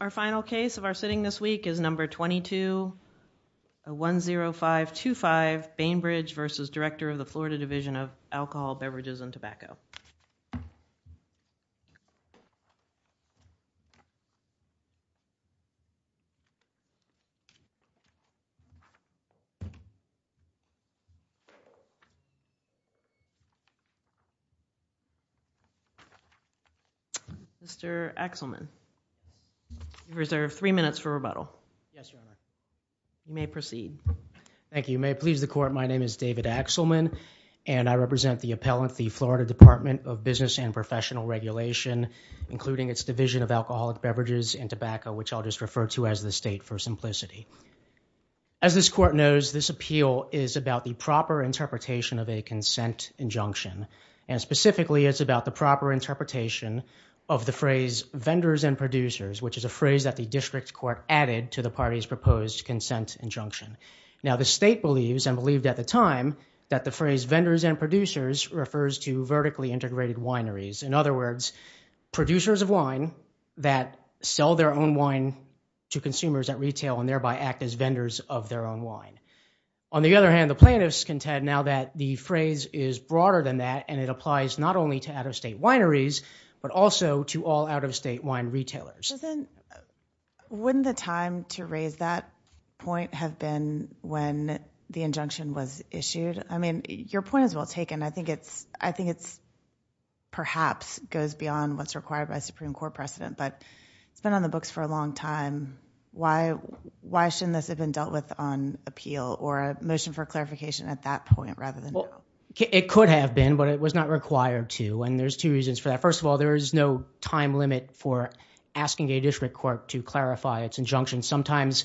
Our final case of our sitting this week is number 22-10525 Bainbridge v. Director of the Florida Division of Alcoholic Beverages and Tobacco. Mr. Axelman, you have three minutes for rebuttal. Yes, Your Honor. You may proceed. Thank you. Your Honor, if you may please the court, my name is David Axelman and I represent the appellant, the Florida Department of Business and Professional Regulation, including its Division of Alcoholic Beverages and Tobacco, which I'll just refer to as the state for simplicity. As this court knows, this appeal is about the proper interpretation of a consent injunction and specifically it's about the proper interpretation of the phrase vendors and producers, which is a phrase that the district court added to the party's proposed consent injunction. Now the state believes and believed at the time that the phrase vendors and producers refers to vertically integrated wineries. In other words, producers of wine that sell their own wine to consumers at retail and thereby act as vendors of their own wine. On the other hand, the plaintiffs contend now that the phrase is broader than that and it applies not only to out-of-state wineries, but also to all out-of-state wine retailers. Doesn't, wouldn't the time to raise that point have been when the injunction was issued? I mean, your point is well taken. I think it's, I think it's perhaps goes beyond what's required by Supreme Court precedent, but it's been on the books for a long time. Why, why shouldn't this have been dealt with on appeal or a motion for clarification at that point rather than now? It could have been, but it was not required to and there's two reasons for that. First of all, there is no time limit for asking a district court to clarify its injunction. Sometimes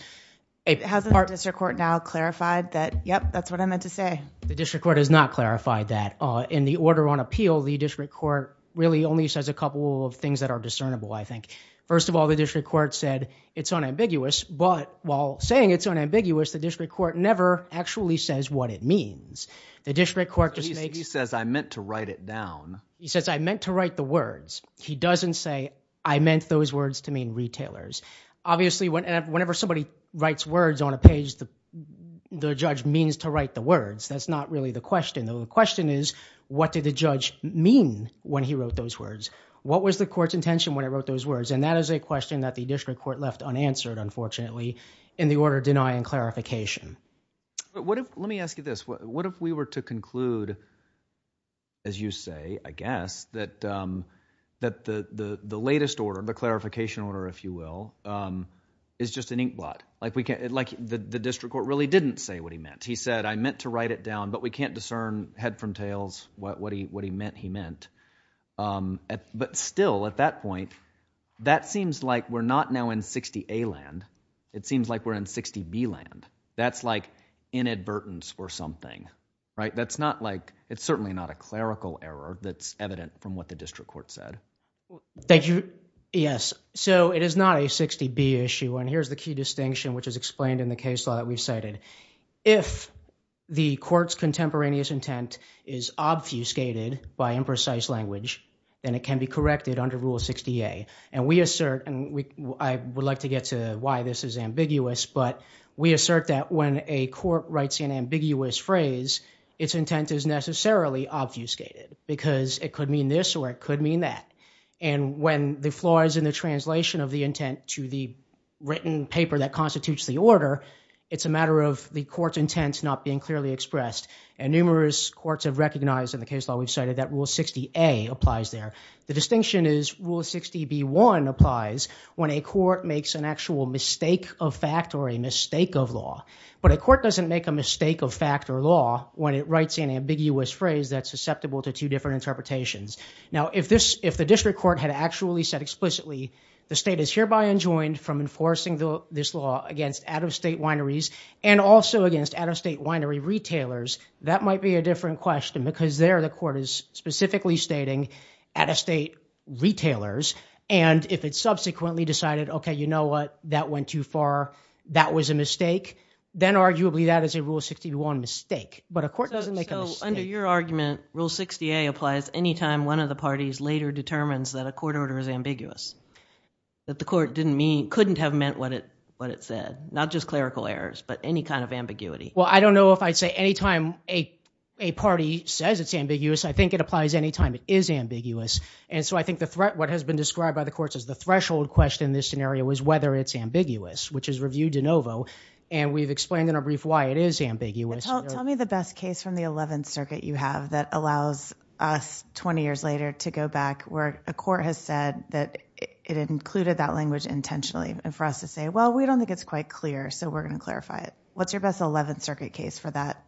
a part- Has the district court now clarified that, yep, that's what I meant to say. The district court has not clarified that. In the order on appeal, the district court really only says a couple of things that are discernible I think. First of all, the district court said it's unambiguous, but while saying it's unambiguous, the district court never actually says what it means. The district court just makes- He says, I meant to write it down. He says, I meant to write the words. He doesn't say, I meant those words to mean retailers. Obviously, whenever somebody writes words on a page, the judge means to write the words. That's not really the question. The question is, what did the judge mean when he wrote those words? What was the court's intention when it wrote those words? And that is a question that the district court left unanswered, unfortunately, in the order denying clarification. Let me ask you this. What if we were to conclude, as you say, I guess, that the latest order, the clarification order if you will, is just an inkblot? The district court really didn't say what he meant. He said, I meant to write it down, but we can't discern head from tails what he meant he meant. But still, at that point, that seems like we're not now in 60A land. It seems like we're in 60B land. That's like inadvertence or something, right? That's not like, it's certainly not a clerical error that's evident from what the district court said. Thank you. Yes. So, it is not a 60B issue, and here's the key distinction which is explained in the case law that we've cited. If the court's contemporaneous intent is obfuscated by imprecise language, then it can be corrected under Rule 60A. We assert, and I would like to get to why this is ambiguous, but we assert that when a court writes an ambiguous phrase, its intent is necessarily obfuscated because it could mean this or it could mean that. When the flaw is in the translation of the intent to the written paper that constitutes the order, it's a matter of the court's intent not being clearly expressed. Numerous courts have recognized in the case law we've cited that Rule 60A applies there. The distinction is Rule 60B1 applies when a court makes an actual mistake of fact or a mistake of law. But a court doesn't make a mistake of fact or law when it writes an ambiguous phrase that's susceptible to two different interpretations. Now if the district court had actually said explicitly, the state is hereby enjoined from enforcing this law against out-of-state wineries and also against out-of-state winery retailers, that might be a different question because there the court is specifically stating out-of-state retailers, and if it subsequently decided, okay, you know what, that went too far, that was a mistake, then arguably that is a Rule 60B1 mistake. But a court doesn't make a mistake. So under your argument, Rule 60A applies any time one of the parties later determines that a court order is ambiguous, that the court couldn't have meant what it said, not just clerical errors, but any kind of ambiguity. Well, I don't know if I'd say any time a party says it's ambiguous. I think it applies any time it is ambiguous. And so I think the threat, what has been described by the courts as the threshold question in this scenario is whether it's ambiguous, which is review de novo. And we've explained in our brief why it is ambiguous. Tell me the best case from the 11th Circuit you have that allows us 20 years later to go back where a court has said that it included that language intentionally and for us to say, well, we don't think it's quite clear, so we're going to clarify it. What's your best 11th Circuit case for that?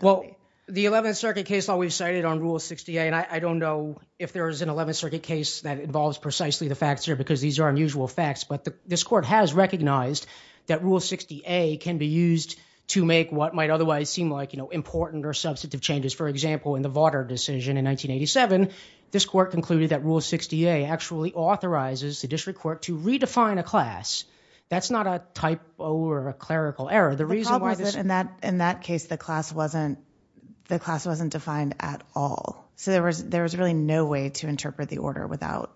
Well, the 11th Circuit case that we've cited on Rule 60A, and I don't know if there is an 11th Circuit case that involves precisely the facts here because these are unusual facts, but this court has recognized that Rule 60A can be used to make what might otherwise seem like important or substantive changes. For example, in the Vauder decision in 1987, this court concluded that Rule 60A actually authorizes the district court to redefine a class. That's not a typo or a clerical error. The problem was that in that case, the class wasn't defined at all, so there was really no way to interpret the order without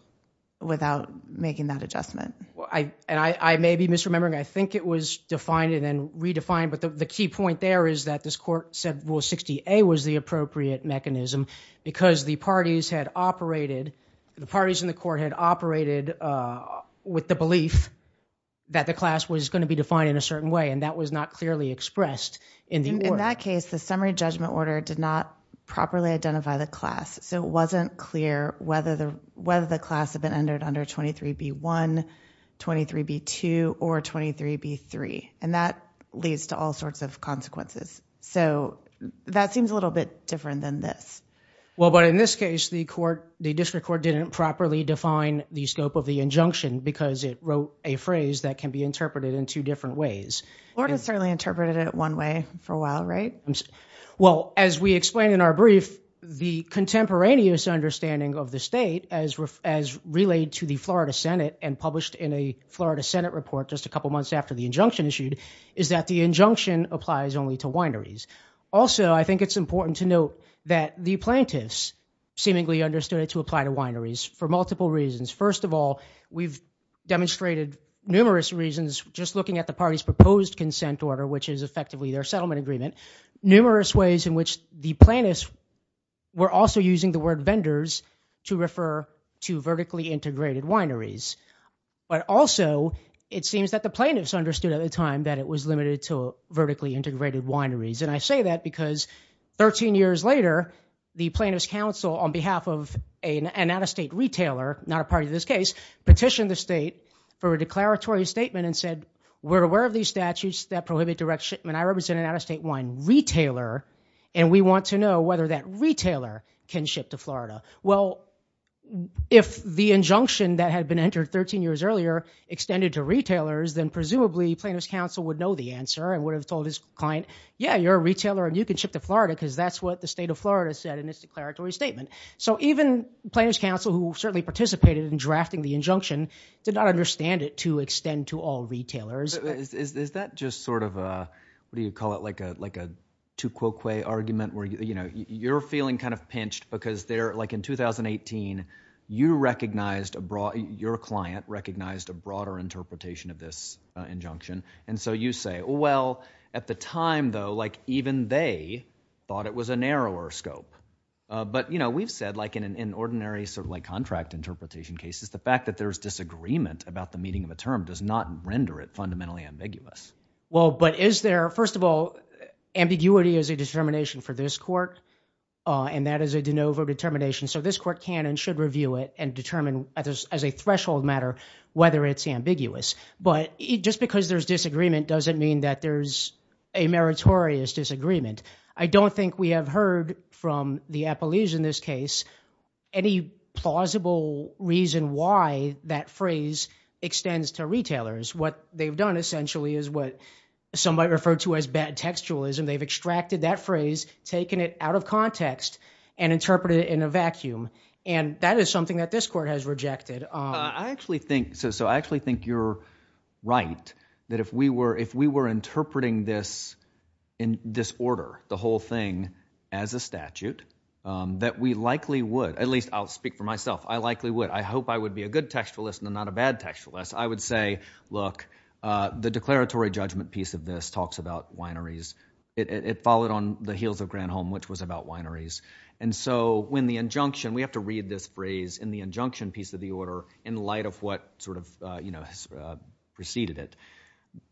making that adjustment. And I may be misremembering, I think it was defined and then redefined, but the key point there is that this court said Rule 60A was the appropriate mechanism because the parties had operated, the parties in the court had operated with the belief that the class was going to be defined in a certain way, and that was not clearly expressed in the order. In that case, the summary judgment order did not properly identify the class, so it wasn't clear whether the class had been entered under 23B1, 23B2, or 23B3. And that leads to all sorts of consequences. So that seems a little bit different than this. Well, but in this case, the district court didn't properly define the scope of the injunction because it wrote a phrase that can be interpreted in two different ways. The board has certainly interpreted it one way for a while, right? Well, as we explained in our brief, the contemporaneous understanding of the state as relayed to the Florida Senate and published in a Florida Senate report just a couple months after the injunction issued is that the injunction applies only to wineries. Also, I think it's important to note that the plaintiffs seemingly understood it to apply to wineries for multiple reasons. First of all, we've demonstrated numerous reasons just looking at the party's proposed consent order, which is effectively their settlement agreement, numerous ways in which the plaintiffs were also using the word vendors to refer to vertically integrated wineries. But also, it seems that the plaintiffs understood at the time that it was limited to vertically integrated wineries. And I say that because 13 years later, the plaintiff's counsel on behalf of an out-of-state retailer, not a party to this case, petitioned the state for a declaratory statement and said, we're aware of these statutes that prohibit direct shipment. I represent an out-of-state wine retailer, and we want to know whether that retailer can ship to Florida. Well, if the injunction that had been entered 13 years earlier extended to retailers, then presumably plaintiff's counsel would know the answer and would have told his client, yeah, you're a retailer and you can ship to Florida because that's what the state of Florida said in its declaratory statement. So even plaintiff's counsel, who certainly participated in drafting the injunction, did not understand it to extend to all retailers. Is that just sort of a, what do you call it, like a tu quoque argument where, you know, you're feeling kind of pinched because they're, like in 2018, you recognized, your client recognized a broader interpretation of this injunction. And so you say, well, at the time, though, like even they thought it was a narrower scope. But, you know, we've said, like in an ordinary sort of like contract interpretation cases, the fact that there's disagreement about the meaning of a term does not render it fundamentally ambiguous. Well, but is there, first of all, ambiguity is a determination for this court, and that is a de novo determination. So this court can and should review it and determine as a threshold matter whether it's ambiguous. But just because there's disagreement doesn't mean that there's a meritorious disagreement. I don't think we have heard from the appellees in this case any plausible reason why that phrase extends to retailers. What they've done essentially is what some might refer to as bad textualism. They've extracted that phrase, taken it out of context, and interpreted it in a vacuum. And that is something that this court has rejected. I actually think, so I actually think you're right, that if we were, if we were interpreting this in this order, the whole thing as a statute, that we likely would, at least I'll speak for myself, I likely would. I hope I would be a good textualist and not a bad textualist. I would say, look, the declaratory judgment piece of this talks about wineries. It followed on the heels of Granholm, which was about wineries. And so when the injunction, we have to read this phrase in the injunction piece of the order in light of what sort of, you know, preceded it.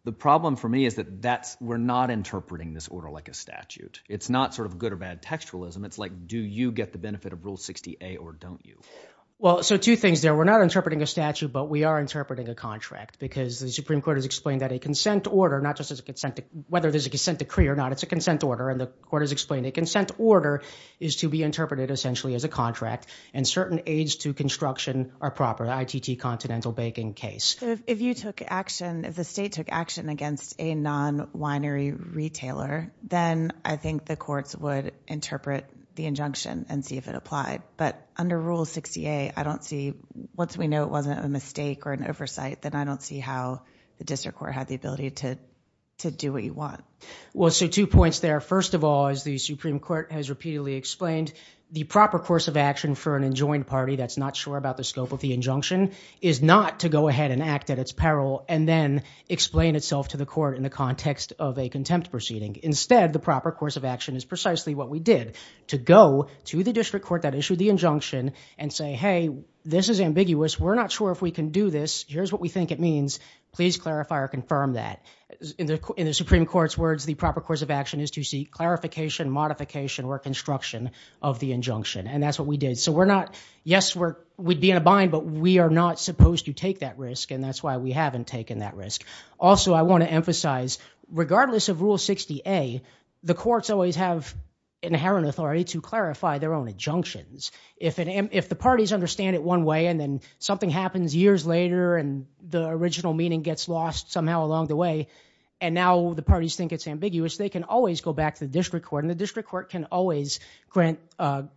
The problem for me is that that's, we're not interpreting this order like a statute. It's not sort of good or bad textualism. It's like, do you get the benefit of Rule 60A or don't you? Well, so two things there. We're not interpreting a statute, but we are interpreting a contract because the Supreme Court has explained that a consent order, not just as a consent, whether there's a consent decree or not, it's a consent order. And the court has explained a consent order is to be interpreted essentially as a contract and certain aids to construction are proper, ITT continental banking case. So if you took action, if the state took action against a non winery retailer, then I think the courts would interpret the injunction and see if it applied. But under Rule 60A, I don't see, once we know it wasn't a mistake or an oversight, then I don't see how the district court had the ability to do what you want. Well, so two points there. First of all, as the Supreme Court has repeatedly explained, the proper course of action for an enjoined party that's not sure about the scope of the injunction is not to go ahead and act at its peril and then explain itself to the court in the context of a contempt proceeding. Instead, the proper course of action is precisely what we did to go to the district court that issued the injunction and say, Hey, this is ambiguous. We're not sure if we can do this. Here's what we think it means. Please clarify or confirm that in the, in the Supreme Court's words, the proper course of action is to seek clarification, modification or construction of the injunction. And that's what we did. So we're not, yes, we're, we'd be in a bind, but we are not supposed to take that risk. And that's why we haven't taken that risk. Also, I want to emphasize, regardless of Rule 60A, the courts always have inherent authority to clarify their own injunctions. If it, if the parties understand it one way, and then something happens years later and the original meaning gets lost somehow along the way, and now the parties think it's ambiguous, they can always go back to the district court and the district court can always grant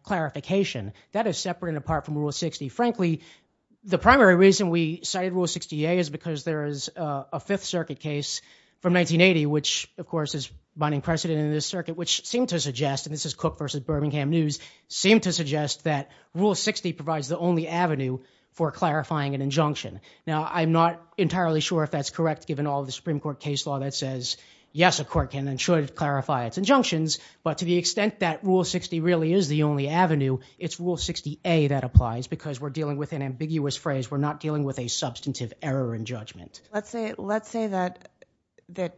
clarification. That is separate and apart from Rule 60. Frankly, the primary reason we cited Rule 60A is because there is a Fifth Circuit case from 1980, which of course is binding precedent in this circuit, which seemed to suggest, and this is Cook versus Birmingham News, seemed to suggest that Rule 60 provides the only avenue for clarifying an injunction. Now I'm not entirely sure if that's correct, given all the Supreme Court case law that says, yes, a court can and should clarify its injunctions. But to the extent that Rule 60 really is the only avenue, it's Rule 60A that applies because we're dealing with an ambiguous phrase. We're not dealing with a substantive error in judgment. Let's say, let's say that, that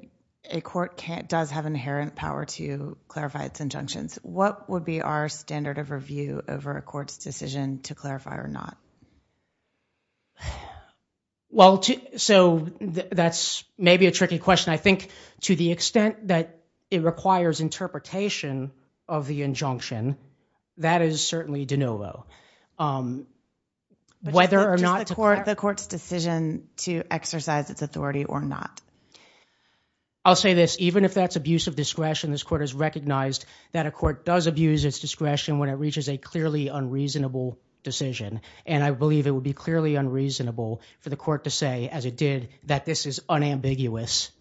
a court can't, does have inherent power to clarify its injunctions. What would be our standard of review over a court's decision to clarify or not? Well, so that's maybe a tricky question. I think to the extent that it requires interpretation of the injunction, that is certainly de novo. Whether or not- The court's decision to exercise its authority or not. I'll say this. Even if that's abuse of discretion, this court has recognized that a court does abuse its discretion when it reaches a clearly unreasonable decision. And I believe it would be clearly unreasonable for the court to say, as it did, that this is unambiguous,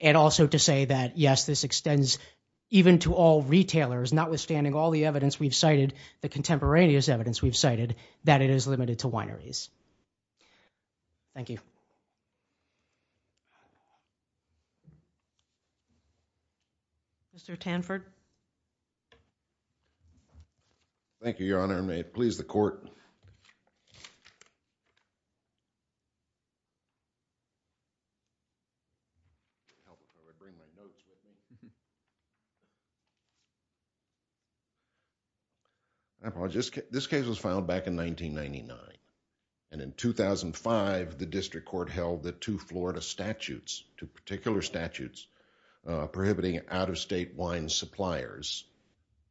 and also to say that, yes, this extends even to all retailers, notwithstanding all the evidence we've cited, the contemporaneous evidence we've cited, that it is limited to wineries. Thank you. Mr. Tanford. Thank you, Your Honor. And may it please the court. This case was filed back in 1999, and in 2005, the district court held that two Florida statutes, two particular statutes prohibiting out-of-state wine suppliers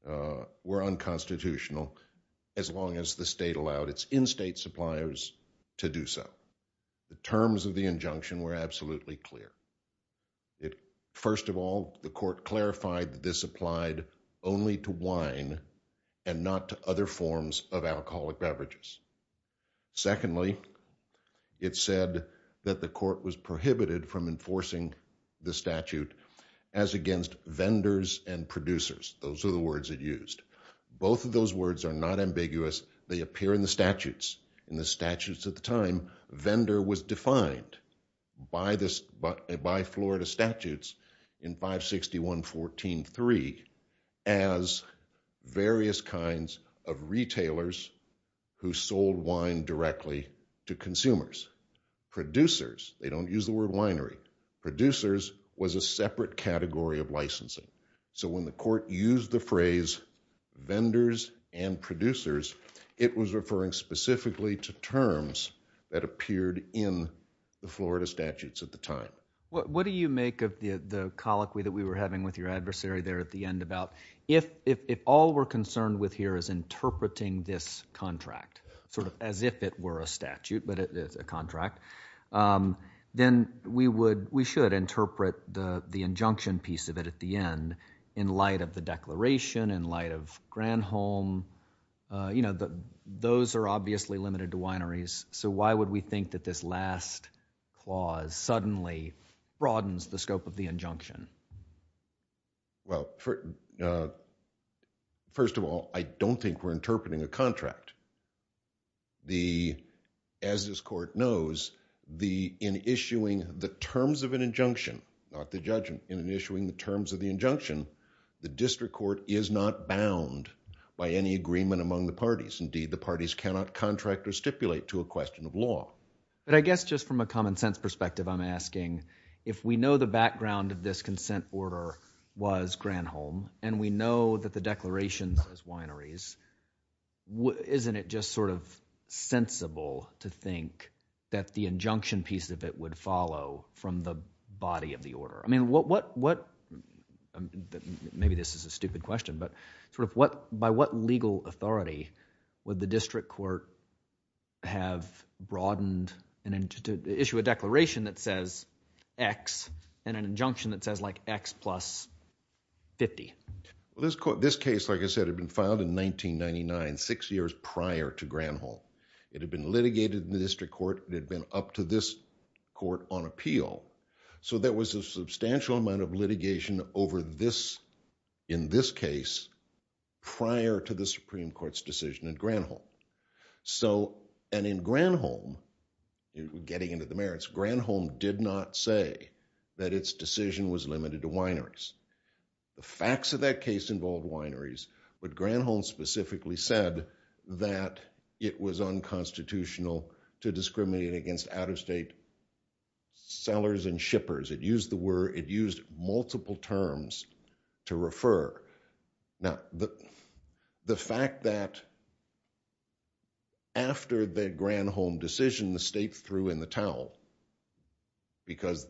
were unconstitutional as long as the state allowed its in-state suppliers to do so. The terms of the injunction were absolutely clear. First of all, the court clarified that this applied only to wine and not to other forms of alcoholic beverages. Secondly, it said that the court was prohibited from enforcing the statute as against vendors and producers. Those are the words it used. Both of those words are not ambiguous. They appear in the statutes. In the statutes at the time, vendor was defined by Florida statutes in 561.14.3 as various kinds of retailers who sold wine directly to consumers. Producers, they don't use the word winery, producers was a separate category of licensing. When the court used the phrase vendors and producers, it was referring specifically to terms that appeared in the Florida statutes at the time. What do you make of the colloquy that we were having with your adversary there at the end about if all we're concerned with here is interpreting this contract, sort of as if it were a statute, but it's a contract, then we should interpret the injunction piece of it at the end in light of the declaration, in light of Granholm. Those are obviously limited to wineries, so why would we think that this last clause suddenly broadens the scope of the injunction? First of all, I don't think we're interpreting a contract. As this court knows, in issuing the terms of an injunction, not the judgment, in issuing the terms of the injunction, the district court is not bound by any agreement among the parties. Indeed, the parties cannot contract or stipulate to a question of law. I guess just from a common sense perspective, I'm asking if we know the background of this consent order was Granholm, and we know that the declaration says wineries, isn't it just sort of sensible to think that the injunction piece of it would follow from the body of the order? I mean, what, maybe this is a stupid question, but sort of by what legal authority would the district court have broadened to issue a declaration that says X and an injunction that says like X plus 50? This case, like I said, had been filed in 1999, six years prior to Granholm. It had been litigated in the district court, it had been up to this court on appeal. So there was a substantial amount of litigation over this, in this case, prior to the Supreme Court's decision in Granholm. So and in Granholm, getting into the merits, Granholm did not say that its decision was limited to wineries. The facts of that case involved wineries, but Granholm specifically said that it was unconstitutional to discriminate against out-of-state sellers and shippers. It used the word, it used multiple terms to refer. Now the fact that after the Granholm decision, the state threw in the towel, because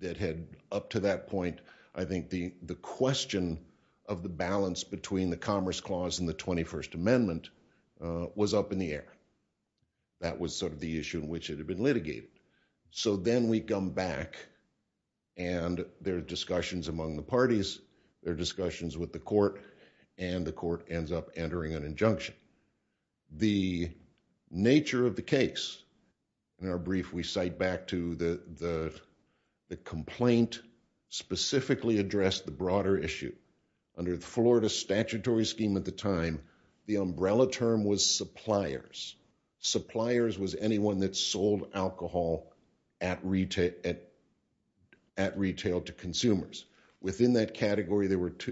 it had up to that point, I think the question of the balance between the Commerce Clause and the 21st Amendment was up in the air. That was sort of the issue in which it had been litigated. So then we come back and there are discussions among the parties, there are discussions with the court, and the court ends up entering an injunction. The nature of the case, in our brief we cite back to the complaint specifically addressed the broader issue. Under the Florida statutory scheme at the time, the umbrella term was suppliers. Suppliers was anyone that sold alcohol at retail to consumers. Within that category,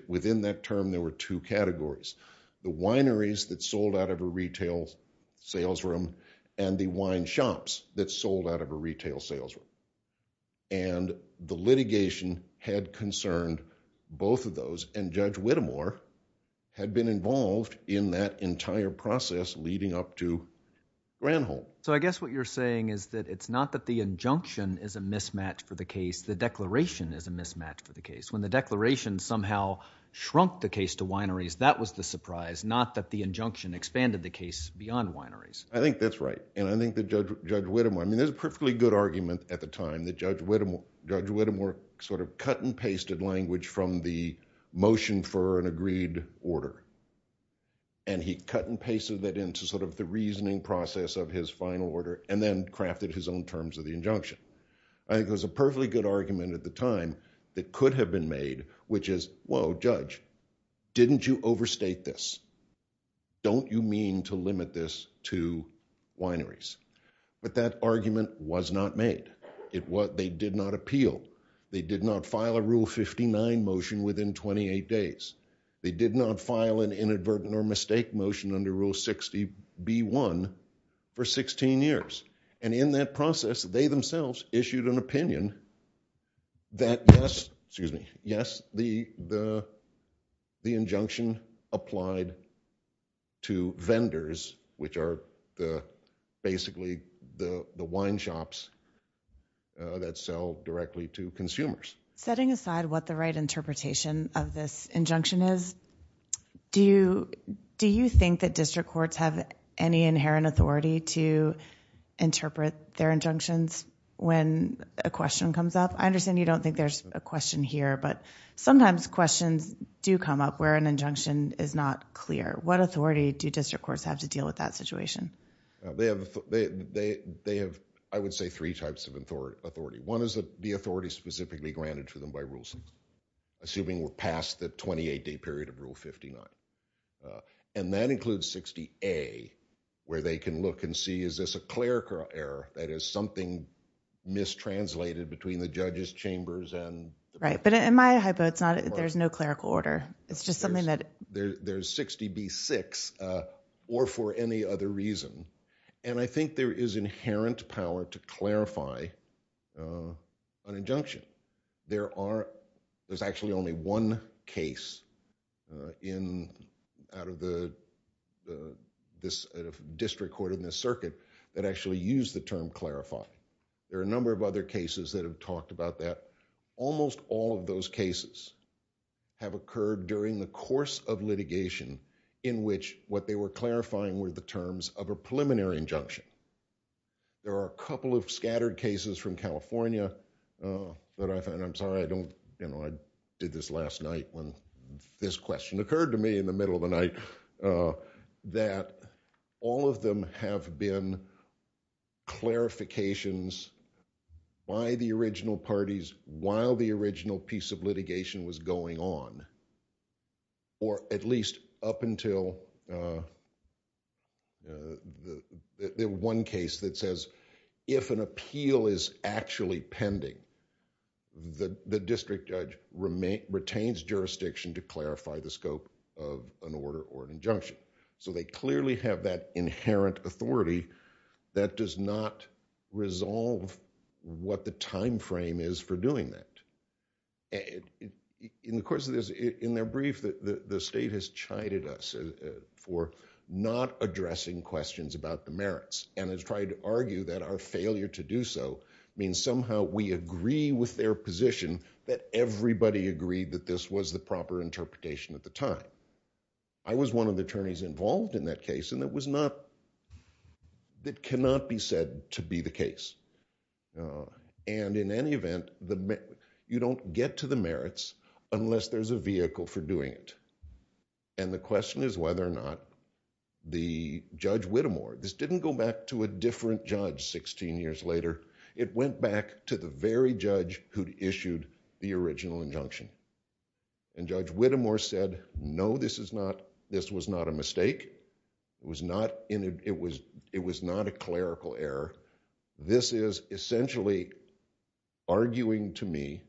within that term, there were two categories, the wineries that sold out of a retail sales room and the wine shops that sold out of a retail sales room. And the litigation had concerned both of those, and Judge Whittemore had been involved in that entire process leading up to Granholm. So I guess what you're saying is that it's not that the injunction is a mismatch for the case, the declaration is a mismatch for the case. When the declaration somehow shrunk the case to wineries, that was the surprise, not that the injunction expanded the case beyond wineries. I think that's right. And I think that Judge Whittemore, I mean, there's a perfectly good argument at the time that Judge Whittemore sort of cut and pasted language from the motion for an agreed order. And he cut and pasted that into sort of the reasoning process of his final order, and then crafted his own terms of the injunction. I think there's a perfectly good argument at the time that could have been made, which is, whoa, Judge, didn't you overstate this? Don't you mean to limit this to wineries? But that argument was not made. They did not appeal. They did not file a Rule 59 motion within 28 days. They did not file an inadvertent or mistake motion under Rule 60B1 for 16 years. And in that process, they themselves issued an opinion that yes, excuse me, yes, the injunction applied to vendors, which are basically the wine shops that sell directly to consumers. Setting aside what the right interpretation of this injunction is, do you think that district courts have any inherent authority to interpret their injunctions when a question comes up? I understand you don't think there's a question here, but sometimes questions do come up where an injunction is not clear. What authority do district courts have to deal with that situation? They have, I would say, three types of authority. One is the authority specifically granted to them by Rule 60, assuming we're past the 28-day period of Rule 59. And that includes 60A, where they can look and see, is this a clerical error? That is, something mistranslated between the judges' chambers and the court? Right. But in my hypo, there's no clerical order. There's 60B6, or for any other reason. And I think there is inherent power to clarify an injunction. There's actually only one case out of the district court in this circuit that actually used the term clarify. There are a number of other cases that have talked about that. Almost all of those cases have occurred during the course of litigation in which what they were clarifying were the terms of a preliminary injunction. There are a couple of scattered cases from California that I find, I'm sorry, I did this last night when this question occurred to me in the middle of the night, that all of them have been clarifications by the original parties while the original piece of litigation was going on, or at least up until the one case that says, if an appeal is actually pending, the district judge retains jurisdiction to clarify the scope of an order or an injunction. So they clearly have that inherent authority that does not resolve what the time frame is for doing that. In the course of this, in their brief, the state has chided us for not addressing questions about the merits and has tried to argue that our failure to do so means somehow we agree with their position that everybody agreed that this was the proper interpretation at the time. I was one of the attorneys involved in that case and it was not, it cannot be said to be the case. And in any event, you don't get to the merits unless there's a vehicle for doing it. And the question is whether or not the Judge Whittemore, this didn't go back to a different judge 16 years later, it went back to the very judge who issued the original injunction. And Judge Whittemore said, no, this is not, this was not a mistake. It was not, it was not a clerical error. This is essentially arguing to me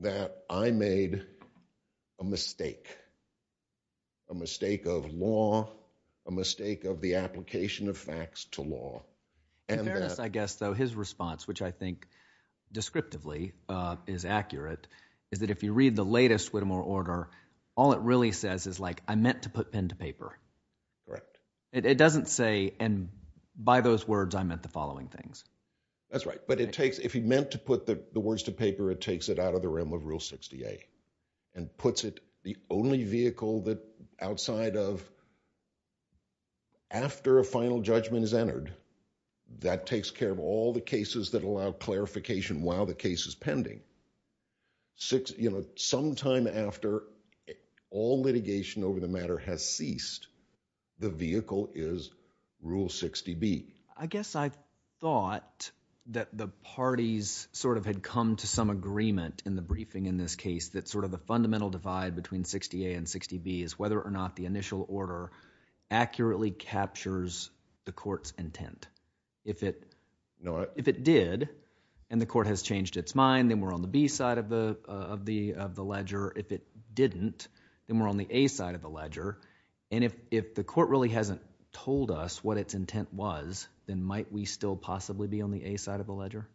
that I made a mistake, a mistake of law, a mistake of the application of facts to law. In fairness, I guess, though, his response, which I think descriptively is accurate, is that if you read the latest Whittemore order, all it really says is like, I meant to put pen to paper. It doesn't say, and by those words, I meant the following things. That's right. But it takes, if he meant to put the words to paper, it takes it out of the realm of Rule 68 and puts it, the only vehicle that outside of, after a final judgment is entered, that takes care of all the cases that allow clarification while the case is pending. You know, sometime after all litigation over the matter has ceased, the vehicle is Rule 60B. I guess I thought that the parties sort of had come to some agreement in the briefing in this case that sort of the fundamental divide between 60A and 60B is whether or not the initial order accurately captures the court's intent. If it did, and the court has changed its mind, then we're on the B side of the ledger. If it didn't, then we're on the A side of the ledger. And if the court really hasn't told us what its intent was, then might we still possibly be on the A side of the ledger?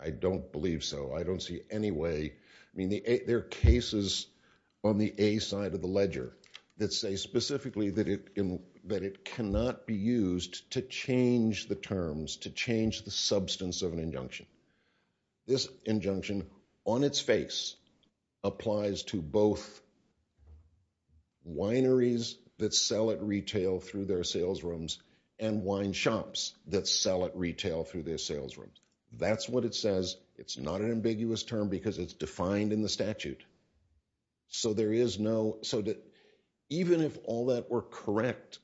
I don't believe so. I don't see any way. I mean, there are cases on the A side of the ledger that say specifically that it cannot be used to change the terms, to change the substance of an injunction. This injunction, on its face, applies to both wineries that sell at retail through their sales rooms and wine shops that sell at retail through their sales rooms. That's what it says. It's not an ambiguous term because it's defined in the statute. So even if all that were correct,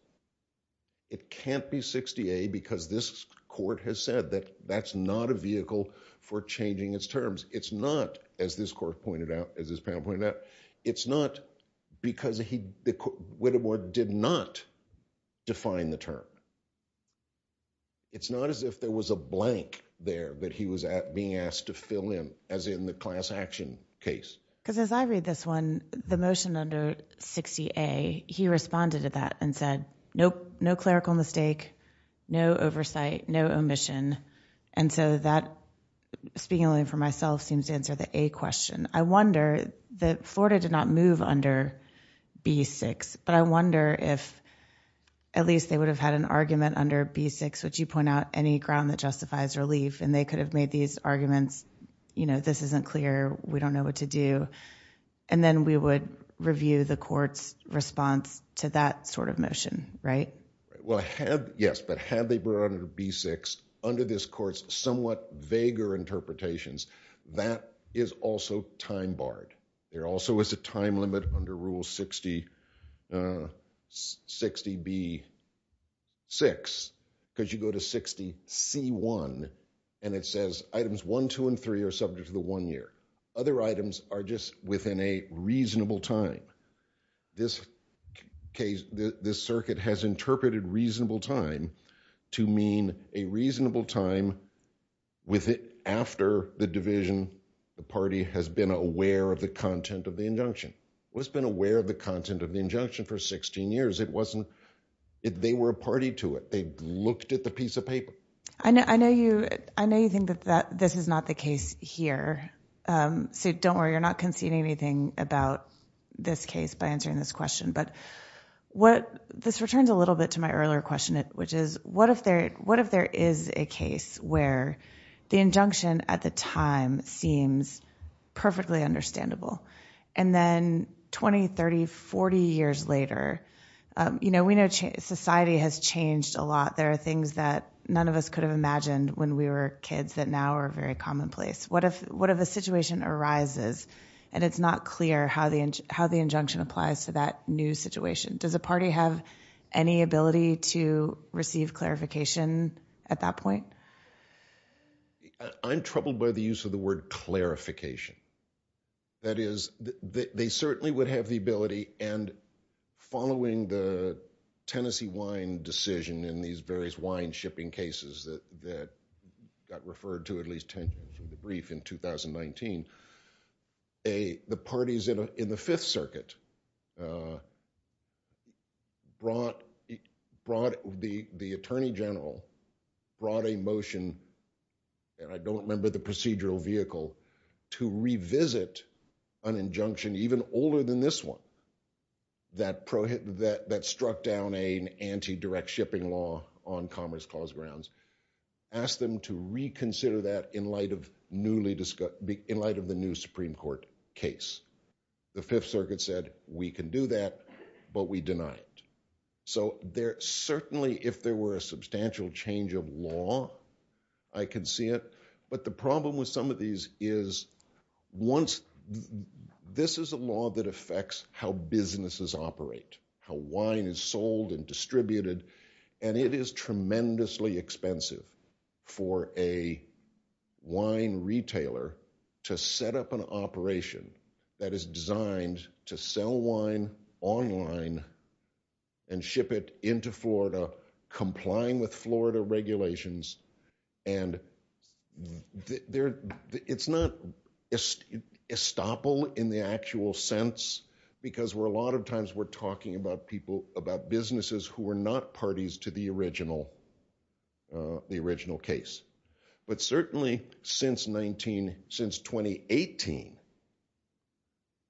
it can't be 60A because this court has said that that's not a vehicle for changing its terms. It's not, as this court pointed out, as this panel pointed out. It's not because Whittemore did not define the term. It's not as if there was a blank there that he was being asked to fill in, as in the class action case. Because as I read this one, the motion under 60A, he responded to that and said, nope, no clerical mistake, no oversight, no omission. And so that, speaking only for myself, seems to answer the A question. I wonder that Florida did not move under B6, but I wonder if at least they would have had an argument under B6, which you point out, any ground that justifies relief, and they could have made these arguments, you know, this isn't clear, we don't know what to do. And then we would review the court's response to that sort of motion, right? Well, yes, but had they been under B6, under this court's somewhat vaguer interpretations, that is also time barred. There also is a time limit under Rule 60B6, because you go to 60C1, and it says items 1, 2, and 3 are subject to the one year. Other items are just within a reasonable time. This circuit has interpreted reasonable time to mean a reasonable time after the division, the party has been aware of the content of the injunction. It's been aware of the content of the injunction for 16 years. It wasn't, they were a party to it. They looked at the piece of paper. I know you think that this is not the case here. So don't worry, you're not conceding anything about this case by answering this question. But this returns a little bit to my earlier question, which is, what if there is a case where the injunction at the time seems perfectly understandable, and then 20, 30, 40 years later, you know, we know society has changed a lot. There are things that none of us could have imagined when we were kids that now are very commonplace. What if a situation arises, and it's not clear how the injunction applies to that new situation? Does a party have any ability to receive clarification at that point? I'm troubled by the use of the word clarification. That is, they certainly would have the ability, and following the Tennessee wine decision in these various wine shipping cases that got referred to at least in the brief in 2019, the parties in the Fifth Circuit, the Attorney General, brought a motion, and I don't remember the procedural vehicle, to revisit an injunction even older than this one that struck down an anti-direct shipping law on Commerce Clause grounds, asked them to reconsider that in light of the new Supreme Court case. The Fifth Circuit said, we can do that, but we denied it. So certainly if there were a substantial change of law, I can see it, but the problem with some of these is, this is a law that affects how businesses operate, how wine is sold and how businesses set up an operation that is designed to sell wine online and ship it into Florida, complying with Florida regulations, and it's not estoppel in the actual sense, because a lot of times we're talking about people, about businesses who are not parties to the original case. But certainly since 2018,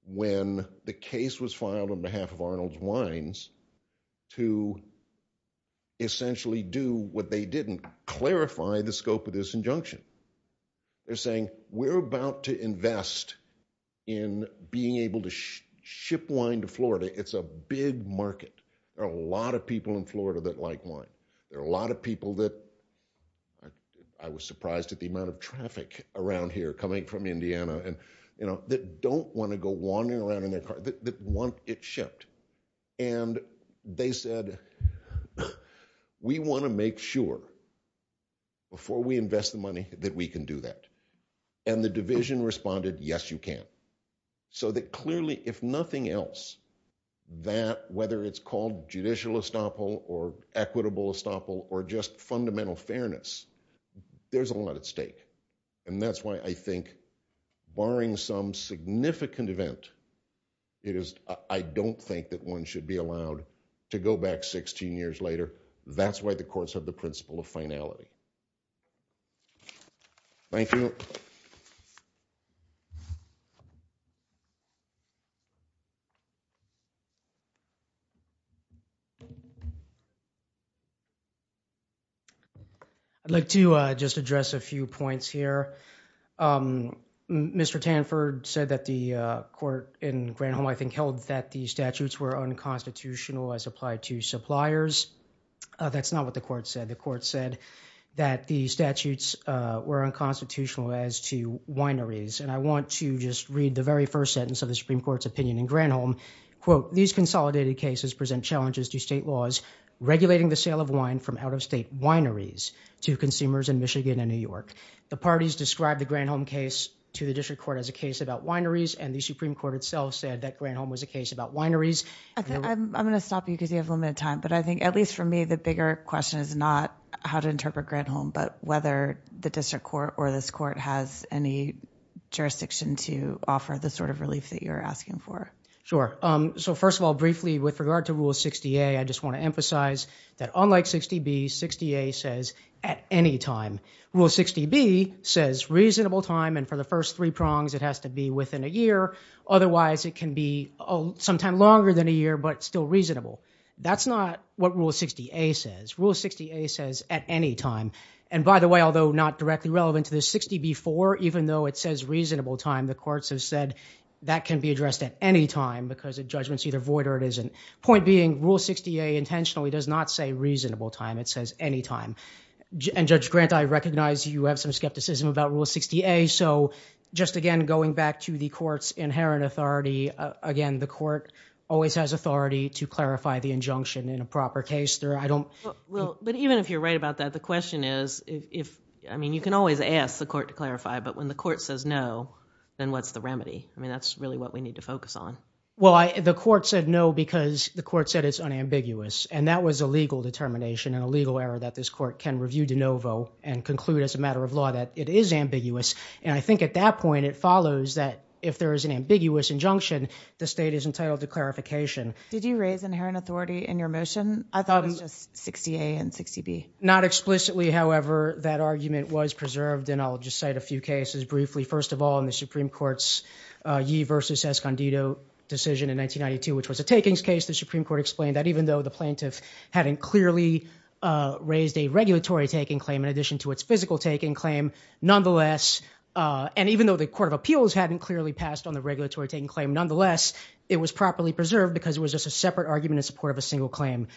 when the case was filed on behalf of Arnold's Wines to essentially do what they did and clarify the scope of this injunction, they're saying, we're about to invest in being able to ship wine to Florida, it's a big market, there are a lot of people in Florida that like wine, there are a lot of people that, I was surprised at the amount of traffic around here coming from Indiana, that don't want to go wandering around in their car, that want it shipped. And they said, we want to make sure, before we invest the money, that we can do that. And the division responded, yes, you can. So that clearly, if nothing else, that, whether it's called judicial estoppel, or equitable estoppel, or just fundamental fairness, there's a lot at stake. And that's why I think, barring some significant event, I don't think that one should be allowed to go back 16 years later. That's why the courts have the principle of finality. Thank you. I'd like to just address a few points here. Mr. Tanford said that the court in Granholm, I think, held that the statutes were unconstitutional as applied to suppliers. That's not what the court said. The court said that the statutes were unconstitutional as to wineries. And I want to just read the very first sentence of the Supreme Court's opinion in Granholm. Quote, these consolidated cases present challenges to state laws regulating the sale of wine from out-of-state wineries to consumers in Michigan and New York. The parties described the Granholm case to the district court as a case about wineries, and the Supreme Court itself said that Granholm was a case about wineries. I'm going to stop you because you have limited time, but I think, at least for me, the bigger question is not how to interpret Granholm, but whether the district court or this court has any jurisdiction to offer the sort of relief that you're asking for. Sure. So first of all, briefly, with regard to Rule 60A, I just want to emphasize that unlike 60B, 60A says at any time. Rule 60B says reasonable time, and for the first three prongs, it has to be within a year, but still reasonable. That's not what Rule 60A says. Rule 60A says at any time. And by the way, although not directly relevant to the 60B4, even though it says reasonable time, the courts have said that can be addressed at any time because a judgment's either void or it isn't. Point being, Rule 60A intentionally does not say reasonable time. It says any time. And Judge Grant, I recognize you have some skepticism about Rule 60A, so just again going back to the court's inherent authority, again, the court always has authority to clarify the injunction in a proper case. But even if you're right about that, the question is if, I mean, you can always ask the court to clarify, but when the court says no, then what's the remedy? I mean, that's really what we need to focus on. Well, the court said no because the court said it's unambiguous. And that was a legal determination and a legal error that this court can review de novo and conclude as a matter of law that it is ambiguous. And I think at that point, it follows that if there is an ambiguous injunction, the state is entitled to clarification. Did you raise inherent authority in your motion? I thought it was just 60A and 60B. Not explicitly, however, that argument was preserved, and I'll just cite a few cases briefly. First of all, in the Supreme Court's Yee v. Escondido decision in 1992, which was a takings case, the Supreme Court explained that even though the plaintiff hadn't clearly raised a regulatory taking claim in addition to its physical taking claim, nonetheless, and even though the Court of Appeals hadn't clearly passed on the regulatory taking claim, nonetheless, it was properly preserved because it was just a separate argument in support of a single claim.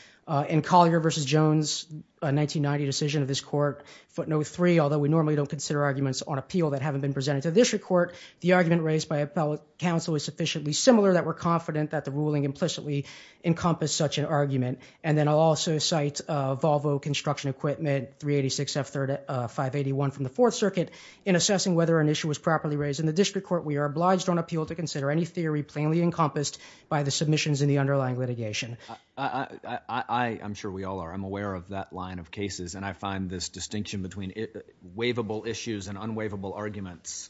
In Collier v. Jones, a 1990 decision of this court, footnote 3, although we normally don't consider arguments on appeal that haven't been presented to district court, the argument raised by appellate counsel is sufficiently similar that we're confident that the ruling implicitly encompassed such an argument. And then I'll also cite Volvo Construction Equipment, 386F581 from the Fourth Circuit, in assessing whether an issue was properly raised in the district court, we are obliged on appeal to consider any theory plainly encompassed by the submissions in the underlying litigation. I'm sure we all are. I'm aware of that line of cases, and I find this distinction between waivable issues and unwaivable arguments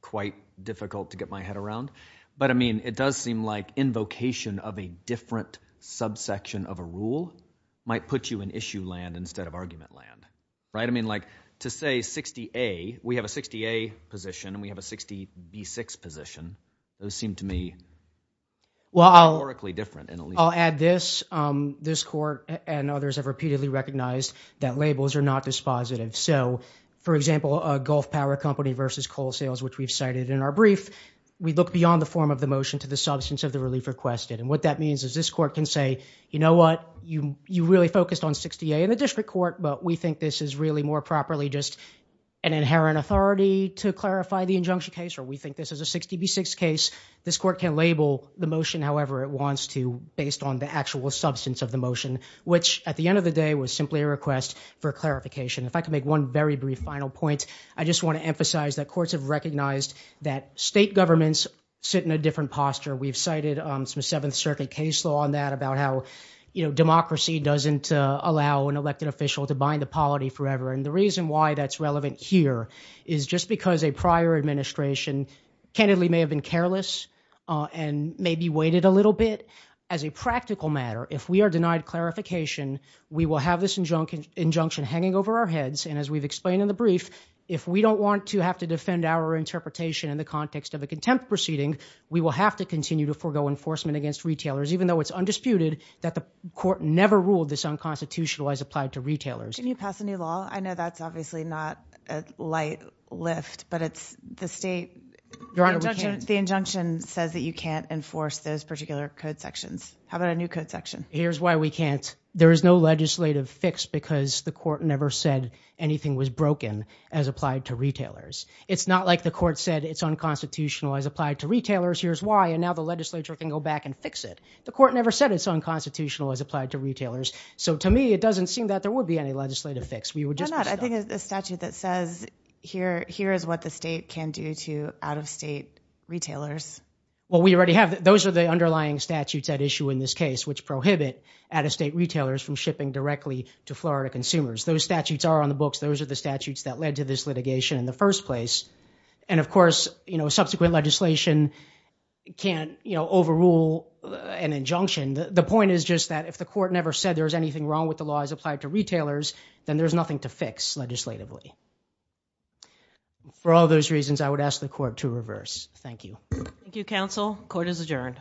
quite difficult to get my head around. But I mean, it does seem like invocation of a different subsection of a rule might put you in issue land instead of argument land. Right? I mean, like, to say 60A, we have a 60A position, and we have a 60B6 position, those seem to me rhetorically different in a legal sense. I'll add this. This court and others have repeatedly recognized that labels are not dispositive. So for example, a Gulf Power Company v. Coal Sales, which we've cited in our brief, we look beyond the form of the motion to the substance of the relief requested. And what that means is this court can say, you know what, you really focused on 60A in the district court, but we think this is really more properly just an inherent authority to clarify the injunction case, or we think this is a 60B6 case. This court can label the motion however it wants to, based on the actual substance of the motion, which at the end of the day was simply a request for clarification. If I could make one very brief final point, I just want to emphasize that courts have sit in a different posture. We've cited some Seventh Circuit case law on that about how democracy doesn't allow an elected official to bind the polity forever. And the reason why that's relevant here is just because a prior administration candidly may have been careless and maybe waited a little bit. As a practical matter, if we are denied clarification, we will have this injunction hanging over our heads. And as we've explained in the brief, if we don't want to have to defend our interpretation in the context of a contempt proceeding, we will have to continue to forego enforcement against retailers, even though it's undisputed that the court never ruled this unconstitutional as applied to retailers. Can you pass a new law? I know that's obviously not a light lift, but it's the state, the injunction says that you can't enforce those particular code sections. How about a new code section? Here's why we can't. to retailers. It's not like the court said it's unconstitutional as applied to retailers. Here's why. And now the legislature can go back and fix it. The court never said it's unconstitutional as applied to retailers. So to me, it doesn't seem that there would be any legislative fix. We would just. I think it's a statute that says here, here is what the state can do to out-of-state retailers. Well, we already have. Those are the underlying statutes at issue in this case, which prohibit out-of-state retailers from shipping directly to Florida consumers. Those statutes are on the books. Those are the statutes that led to this litigation in the first place. And of course, you know, subsequent legislation can't, you know, overrule an injunction. The point is just that if the court never said there was anything wrong with the law as applied to retailers, then there's nothing to fix legislatively. For all those reasons, I would ask the court to reverse. Thank you. Thank you, counsel. Court is adjourned.